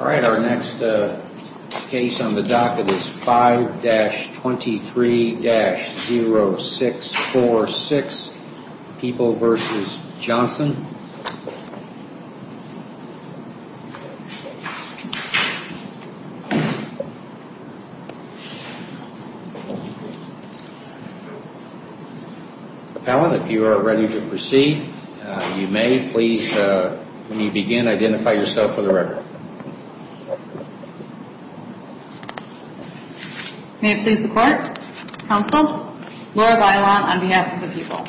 Our next case on the docket is 5-23-0646, People v. Johnson. If you are ready to proceed, you may please, when you begin, identify yourself for the May it please the Court, Counsel, Laura Bailon on behalf of the People.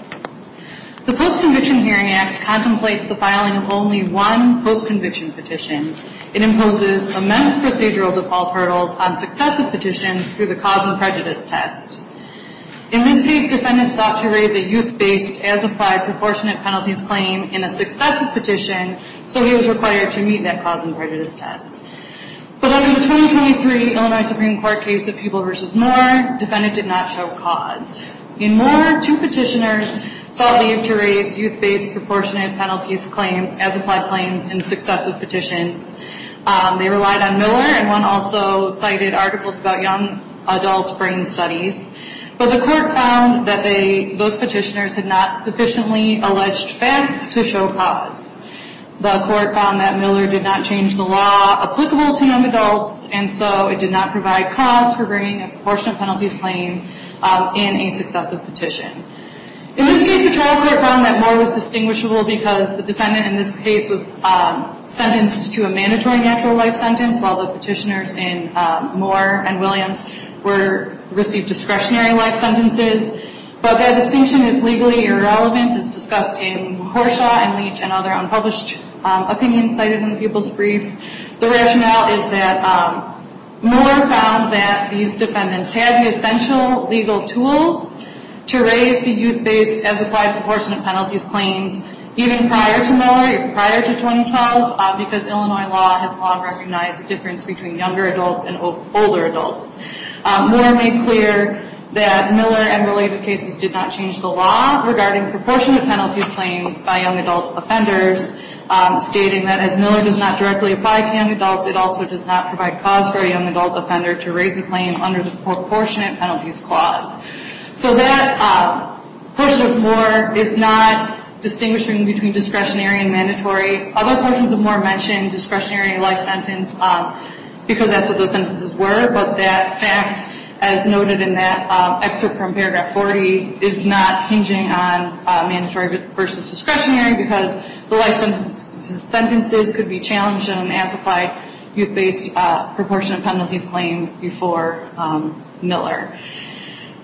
The Post-Conviction Hearing Act contemplates the filing of only one post-conviction petition. It imposes immense procedural default hurdles on successive petitions through the cause-and-prejudice test. In this case, defendants sought to raise a youth-based, as-applied, proportionate penalties claim in a successive petition, so he was required to meet that cause-and-prejudice test. But under the 2023 Illinois Supreme Court case of People v. Moore, defendant did not show cause. In Moore, two petitioners sought leave to raise youth-based, proportionate penalties claims, as-applied claims, in successive petitions. They relied on Miller, and one also cited articles about young adult brain studies. But the Court found that those petitioners had not sufficiently alleged facts to show cause. The Court found that Miller did not change the law applicable to young adults, and so it did not provide cause for bringing a proportionate penalties claim in a successive petition. In this case, the trial court found that Moore was distinguishable because the defendant in this case was sentenced to a mandatory natural life sentence while the petitioners in Moore and Williams received discretionary life sentences. But that distinction is legally irrelevant. It's discussed in Horshaw and Leach and other unpublished opinions cited in the People's Brief. The rationale is that Moore found that these defendants had the essential legal tools to raise the youth-based, as-applied, proportionate penalties claims even prior to Miller, prior to 2012, because Illinois law has long recognized the difference between younger adults and older adults. Moore made clear that Miller and related cases did not change the law regarding proportionate penalties claims by young adult offenders, stating that as Miller does not directly apply to young adults, it also does not provide cause for a young adult offender to raise a claim under the proportionate penalties clause. So that portion of Moore is not distinguishing between discretionary and mandatory. Other portions of Moore mention discretionary life sentence because that's what those sentences were, but that fact, as noted in that excerpt from paragraph 40, is not hinging on mandatory versus discretionary because the life sentences could be challenged in an as-applied, youth-based, proportionate penalties claim before Miller.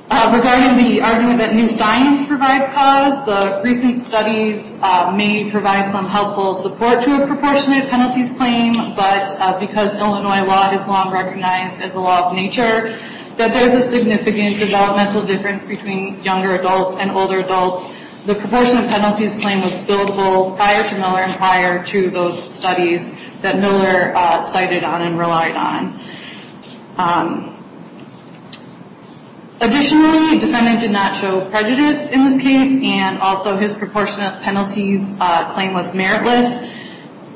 Regarding the argument that new science provides cause, the recent studies may provide some helpful support to a proportionate penalties claim, but because Illinois law is long recognized as a law of nature, that there's a significant developmental difference between younger adults and older adults, the proportionate penalties claim was buildable prior to Miller and prior to those studies that Miller cited on and relied on. Additionally, the defendant did not show prejudice in this case, and also his proportionate penalties claim was meritless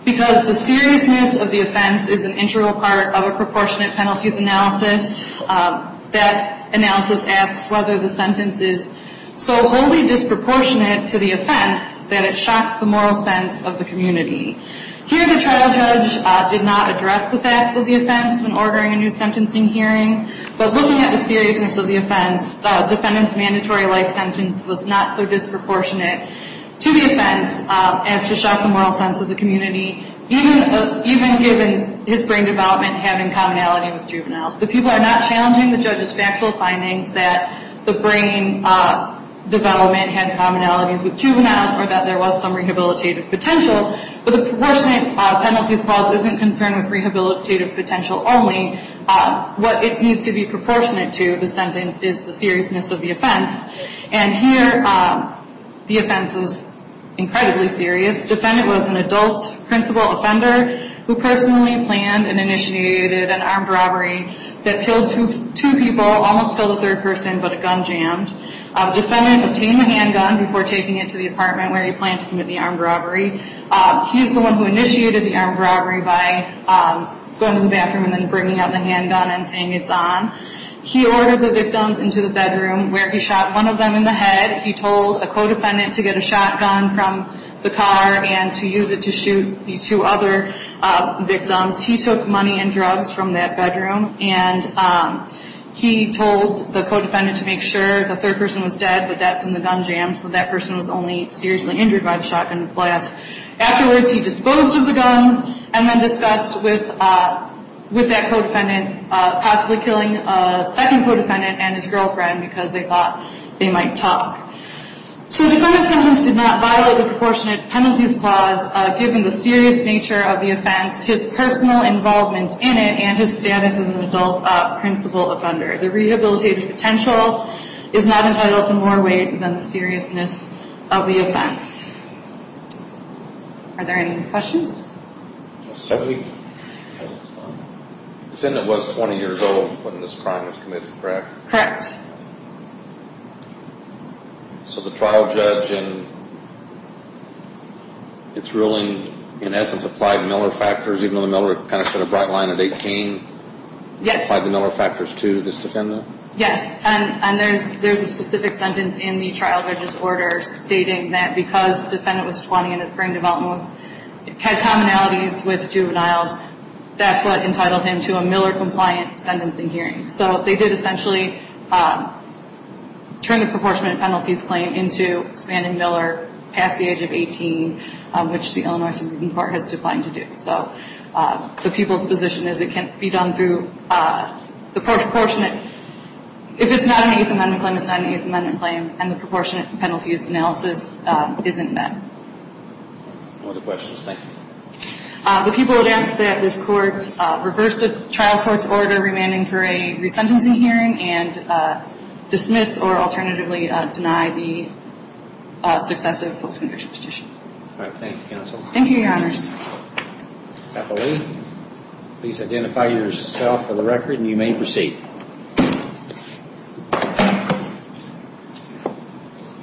because the seriousness of the offense is an integral part of a proportionate penalties analysis. That analysis asks whether the sentence is so wholly disproportionate to the offense that it shocks the moral sense of the community. Here, the trial judge did not address the facts of the offense when ordering a new sentencing hearing, but looking at the seriousness of the offense, the defendant's mandatory life sentence was not so disproportionate to the offense as to shock the moral sense of the community, even given his brain development having commonality with juveniles. The people are not challenging the judge's factual findings that the brain development had commonalities with juveniles or that there was some rehabilitative potential, but the proportionate penalties clause isn't concerned with rehabilitative potential only. What it needs to be proportionate to, the sentence, is the seriousness of the offense. And here, the offense is incredibly serious. The defendant was an adult principal offender who personally planned and initiated an armed robbery that killed two people, almost killed a third person, but a gun jammed. The defendant obtained a handgun before taking it to the apartment where he planned to commit the armed robbery. He's the one who initiated the armed robbery by going to the bathroom and then bringing out the handgun and saying it's on. He ordered the victims into the bedroom where he shot one of them in the head. He told a co-defendant to get a shotgun from the car and to use it to shoot the two other victims. He took money and drugs from that bedroom, and he told the co-defendant to make sure the third person was dead, but that's when the gun jammed, so that person was only seriously injured by the shotgun blast. Afterwards, he disposed of the guns and then discussed with that co-defendant, possibly killing a second co-defendant and his girlfriend because they thought they might talk. So the defendant's sentence did not violate the proportionate penalties clause, given the serious nature of the offense, his personal involvement in it, and his status as an adult principal offender. The rehabilitative potential is not entitled to more weight than the seriousness of the offense. Are there any questions? The defendant was 20 years old when this crime was committed, correct? Correct. So the trial judge in its ruling, in essence, applied Miller factors, even though the Miller kind of set a bright line at 18? Yes. He applied the Miller factors to this defendant? Yes. And there's a specific sentence in the trial judge's order stating that because the defendant was 20 and his brain development had commonalities with juveniles, that's what entitled him to a Miller-compliant sentencing hearing. So they did essentially turn the proportionate penalties claim into expanding Miller past the age of 18, which the Illinois Supreme Court has defined to do. So the people's position is it can't be done through the proportionate. If it's not an Eighth Amendment claim, it's not an Eighth Amendment claim, and the proportionate penalties analysis isn't met. No other questions. Thank you. The people have asked that this Court reverse the trial court's order remanding for a resentencing hearing and dismiss or alternatively deny the successive folksman leadership petition. All right. Thank you, counsel. Thank you, Your Honors. Appellee, please identify yourself for the record, and you may proceed.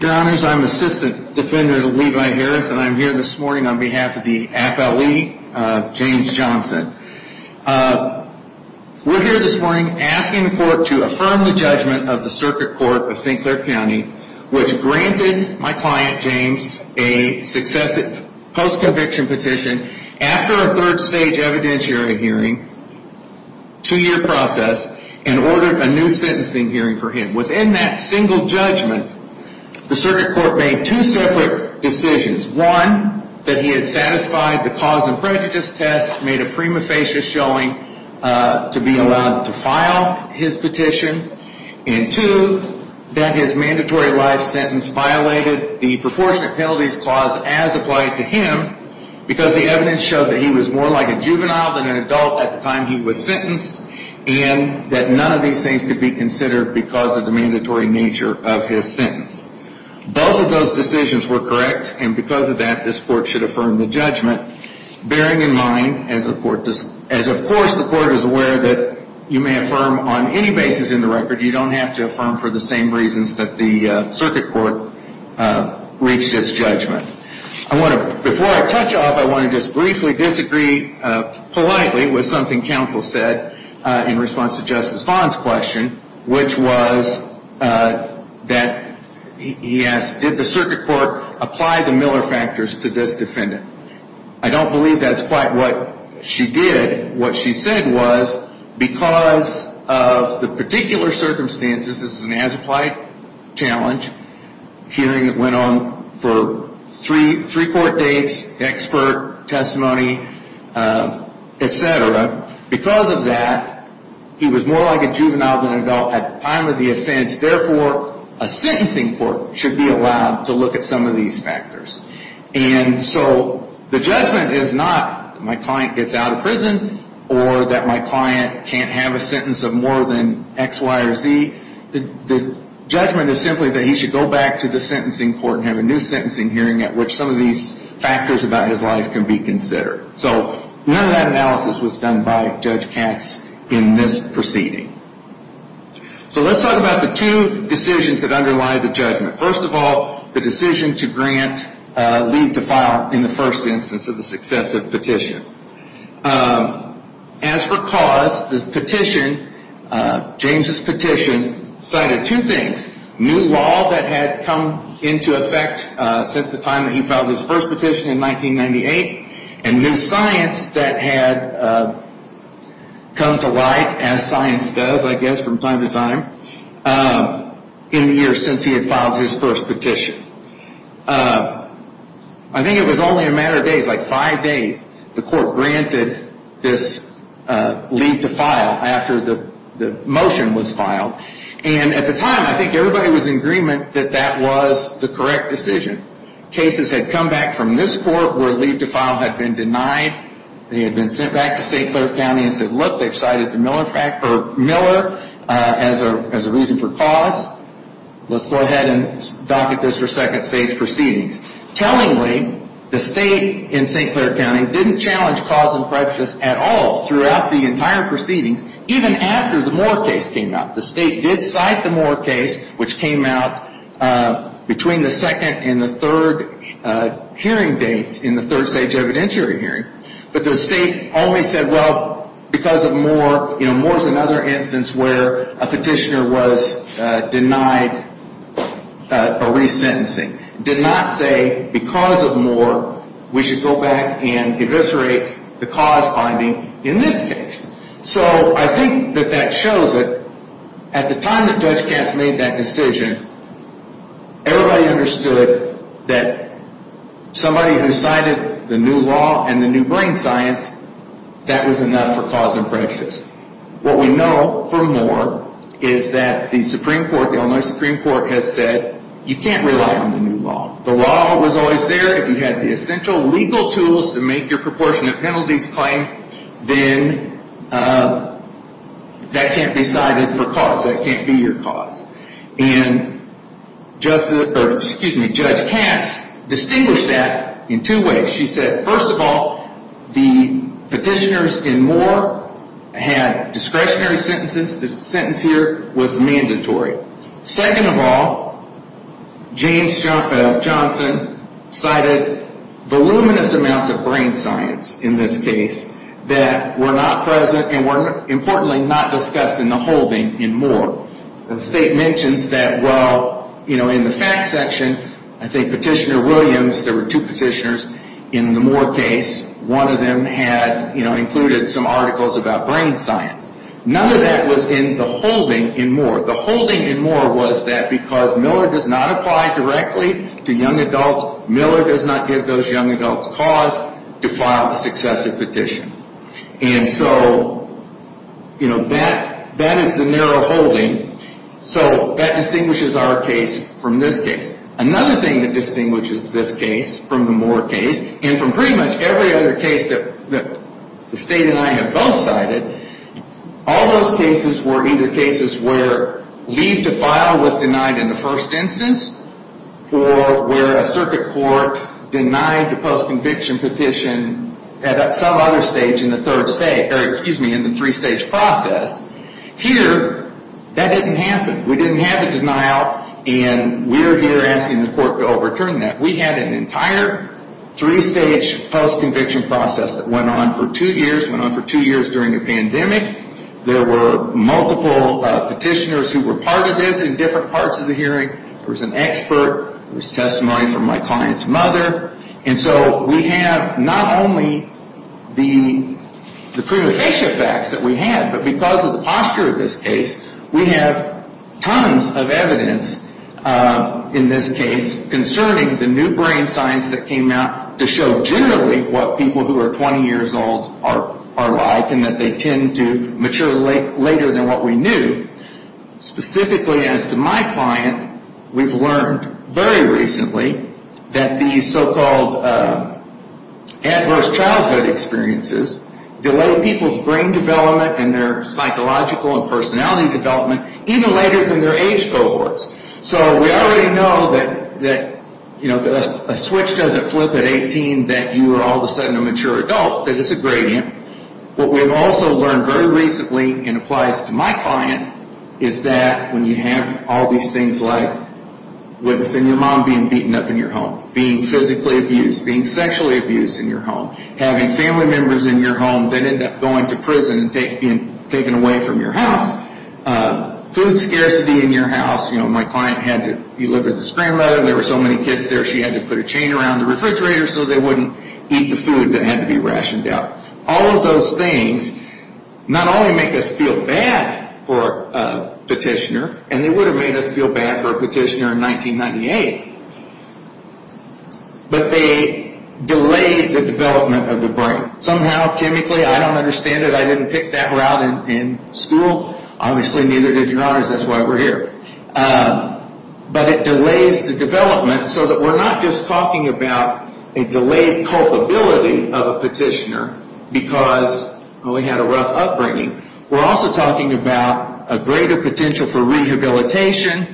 Your Honors, I'm Assistant Defender Levi Harris, and I'm here this morning on behalf of the appellee, James Johnson. We're here this morning asking the Court to affirm the judgment of the Circuit Court of St. Clair County, which granted my client, James, a successive post-conviction petition after a third-stage evidentiary hearing, two-year process, and ordered a new sentencing hearing for him. Within that single judgment, the Circuit Court made two separate decisions, one, that he had satisfied the cause and prejudice test, made a prima facie showing to be allowed to file his petition, and two, that his mandatory life sentence violated the proportionate penalties clause as applied to him because the evidence showed that he was more like a juvenile than an adult at the time he was sentenced and that none of these things could be considered because of the mandatory nature of his sentence. Both of those decisions were correct, and because of that, this Court should affirm the judgment, bearing in mind, as of course the Court is aware that you may affirm on any basis in the record, you don't have to affirm for the same reasons that the Circuit Court reached its judgment. Before I touch off, I want to just briefly disagree politely with something Counsel said in response to Justice Fon's question, which was that he asked, did the Circuit Court apply the Miller factors to this defendant? I don't believe that's quite what she did. What she said was because of the particular circumstances, this is an as-applied challenge, hearing that went on for three court dates, expert testimony, et cetera, because of that, he was more like a juvenile than an adult at the time of the offense. Therefore, a sentencing court should be allowed to look at some of these factors. And so the judgment is not that my client gets out of prison or that my client can't have a sentence of more than X, Y, or Z. The judgment is simply that he should go back to the sentencing court and have a new sentencing hearing at which some of these factors about his life can be considered. So none of that analysis was done by Judge Katz in this proceeding. So let's talk about the two decisions that underlie the judgment. First of all, the decision to grant leave to file in the first instance of the successive petition. As for cause, the petition, James's petition, cited two things, new law that had come into effect since the time that he filed his first petition in 1998 and new science that had come to light, as science does, I guess, from time to time, in the years since he had filed his first petition. I think it was only a matter of days, like five days, the court granted this leave to file after the motion was filed. And at the time, I think everybody was in agreement that that was the correct decision. Cases had come back from this court where leave to file had been denied. They had been sent back to St. Clair County and said, look, they've cited Miller as a reason for cause. Let's go ahead and docket this for second stage proceedings. Tellingly, the state in St. Clair County didn't challenge cause and prejudice at all throughout the entire proceedings, even after the Moore case came out. The state did cite the Moore case, which came out between the second and the third hearing dates in the third stage evidentiary hearing. But the state only said, well, because of Moore, you know, Moore is another instance where a petitioner was denied a resentencing. Did not say because of Moore, we should go back and eviscerate the cause finding in this case. So I think that that shows that at the time that Judge Katz made that decision, everybody understood that somebody who cited the new law and the new brain science, that was enough for cause and prejudice. What we know from Moore is that the Supreme Court, the Illinois Supreme Court, has said you can't rely on the new law. The law was always there. If you had the essential legal tools to make your proportionate penalties claim, then that can't be cited for cause. That can't be your cause. And Judge Katz distinguished that in two ways. She said, first of all, the petitioners in Moore had discretionary sentences. The sentence here was mandatory. Second of all, James Johnson cited voluminous amounts of brain science in this case that were not present and were importantly not discussed in the holding in Moore. The state mentions that, well, you know, in the facts section, I think Petitioner Williams, there were two petitioners in the Moore case, one of them had, you know, included some articles about brain science. None of that was in the holding in Moore. The holding in Moore was that because Miller does not apply directly to young adults, Miller does not give those young adults cause to file the successive petition. And so, you know, that is the narrow holding. So that distinguishes our case from this case. Another thing that distinguishes this case from the Moore case, and from pretty much every other case that the state and I have both cited, all those cases were either cases where leave to file was denied in the first instance or where a circuit court denied the postconviction petition at some other stage in the third stage, or excuse me, in the three-stage process. Here, that didn't happen. We didn't have a denial, and we're here asking the court to overturn that. We had an entire three-stage postconviction process that went on for two years, went on for two years during the pandemic. There were multiple petitioners who were part of this in different parts of the hearing. There was an expert. There was testimony from my client's mother. And so we have not only the prima facie facts that we have, but because of the posture of this case, we have tons of evidence in this case concerning the new brain science that came out to show generally what people who are 20 years old are like and that they tend to mature later than what we knew. Specifically as to my client, we've learned very recently that these so-called adverse childhood experiences delay people's brain development and their psychological and personality development even later than their age cohorts. So we already know that if a switch doesn't flip at 18, that you are all of a sudden a mature adult, that it's a gradient. What we've also learned very recently and applies to my client is that when you have all these things like your mom being beaten up in your home, being physically abused, being sexually abused in your home, having family members in your home that end up going to prison and being taken away from your house, food scarcity in your house, you know, my client had to deliver the screen letter, there were so many kids there she had to put a chain around the refrigerator so they wouldn't eat the food that had to be rationed out. All of those things not only make us feel bad for a petitioner, and they would have made us feel bad for a petitioner in 1998, but they delay the development of the brain. Somehow, chemically, I don't understand it, I didn't pick that route in school, obviously neither did your honors, that's why we're here. But it delays the development so that we're not just talking about a delayed culpability of a petitioner because we had a rough upbringing, we're also talking about a greater potential for rehabilitation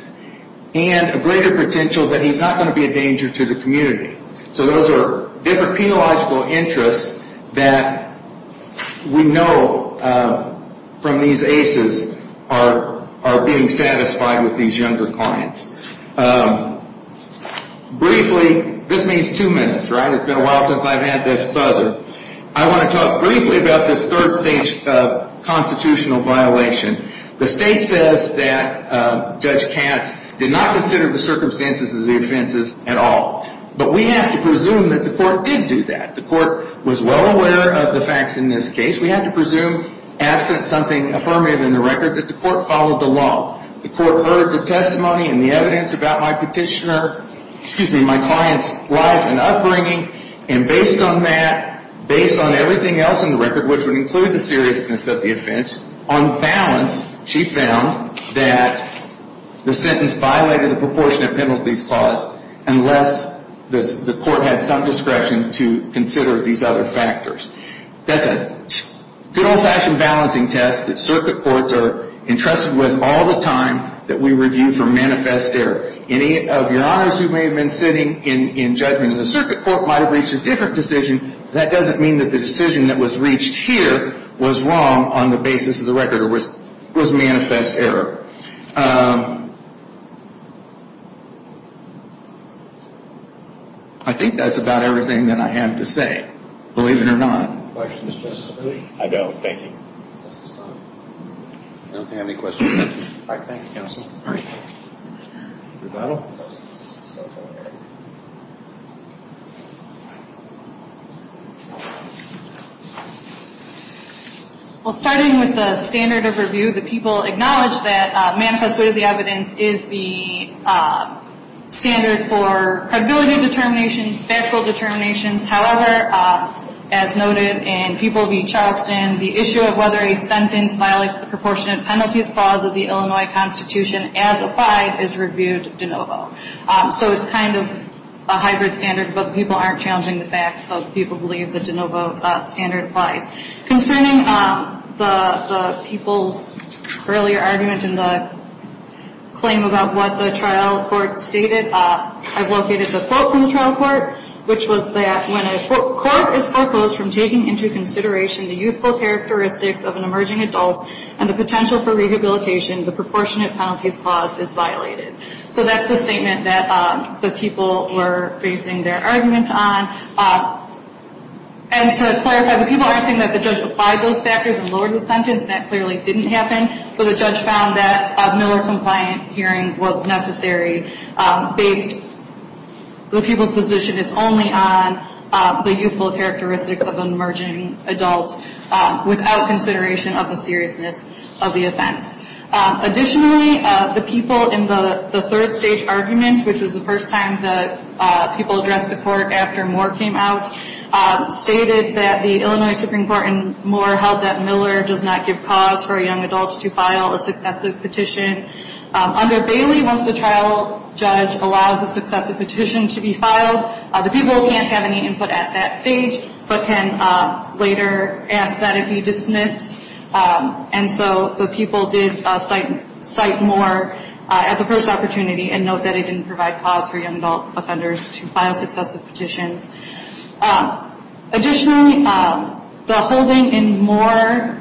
and a greater potential that he's not going to be a danger to the community. So those are different penological interests that we know from these ACEs are being satisfied with these younger clients. Briefly, this means two minutes, right? It's been a while since I've had this buzzer. I want to talk briefly about this third stage constitutional violation. The state says that Judge Katz did not consider the circumstances of the offenses at all. But we have to presume that the court did do that. The court was well aware of the facts in this case. We have to presume, absent something affirmative in the record, that the court followed the law. The court heard the testimony and the evidence about my client's life and upbringing, and based on that, based on everything else in the record, which would include the seriousness of the offense, on balance she found that the sentence violated the proportionate penalties clause unless the court had some discretion to consider these other factors. That's a good old-fashioned balancing test that circuit courts are entrusted with all the time that we review for manifest error. Any of your honors who may have been sitting in judgment of the circuit court might have reached a different decision, but that doesn't mean that the decision that was reached here was wrong on the basis of the record or was manifest error. I think that's about everything that I have to say, believe it or not. Well, starting with the standard of review, the people acknowledge that manifest evidence is the standard for credibility determinations, factual determinations. However, as noted in People v. Charleston, the issue of whether a sentence violates the proportionate penalties clause of the Illinois Constitution as applied is reviewed de novo. So it's kind of a hybrid standard, but people aren't challenging the facts, so people believe the de novo standard applies. Concerning the people's earlier argument in the claim about what the trial court stated, I've located the quote from the trial court, which was that when a court is foreclosed from taking into consideration the youthful characteristics of an emerging adult and the potential for rehabilitation, the proportionate penalties clause is violated. So that's the statement that the people were basing their argument on. And to clarify, the people aren't saying that the judge applied those factors and lowered the sentence. That clearly didn't happen. But the judge found that a Miller-compliant hearing was necessary based the people's position is only on the youthful characteristics of an emerging adult without consideration of the seriousness of the offense. Additionally, the people in the third-stage argument, which was the first time that people addressed the court after Moore came out, stated that the Illinois Supreme Court in Moore held that Miller does not give cause for a young adult to file a successive petition. Under Bailey, once the trial judge allows a successive petition to be filed, the people can't have any input at that stage but can later ask that it be dismissed. And so the people did cite Moore at the first opportunity and note that it didn't provide cause for young adult offenders to file successive petitions. Additionally, the holding in Moore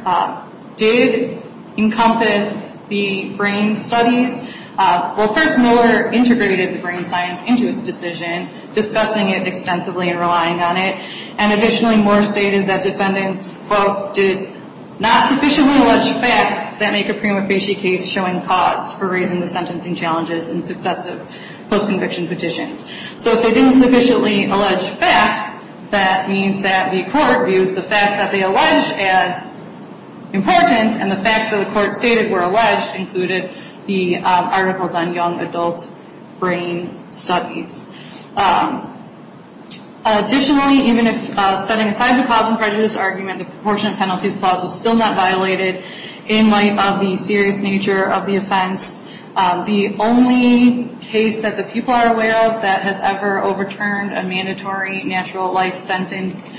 did encompass the brain studies. Well, first, Miller integrated the brain science into its decision, discussing it extensively and relying on it. And additionally, Moore stated that defendants, quote, did not sufficiently allege facts that make a prima facie case showing cause for raising the sentencing challenges in successive post-conviction petitions. So if they didn't sufficiently allege facts, that means that the court views the facts that they allege as important, and the facts that the court stated were alleged included the articles on young adult brain studies. Additionally, even if setting aside the cause and prejudice argument, the proportionate penalties clause was still not violated in light of the serious nature of the offense. The only case that the people are aware of that has ever overturned a mandatory natural life sentence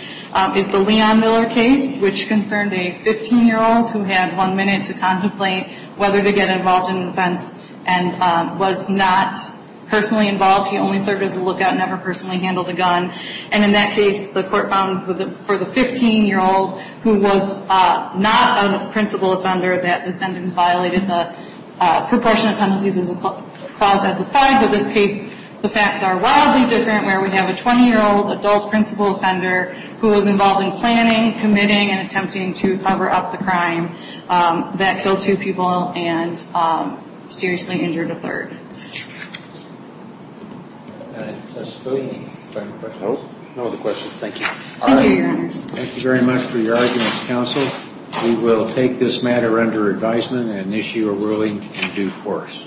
is the Leon Miller case, which concerned a 15-year-old who had one minute to contemplate whether to get involved in an offense and was not personally involved. He only served as a lookout and never personally handled a gun. And in that case, the court found for the 15-year-old who was not a principal offender that the sentence violated the proportionate penalties clause as applied. But this case, the facts are wildly different where we have a 20-year-old adult principal offender who was involved in planning, committing, and attempting to cover up the crime that killed two people and seriously injured a third. No other questions. Thank you. Thank you, Your Honors. Thank you very much for your arguments, counsel. We will take this matter under advisement and issue a ruling in due course.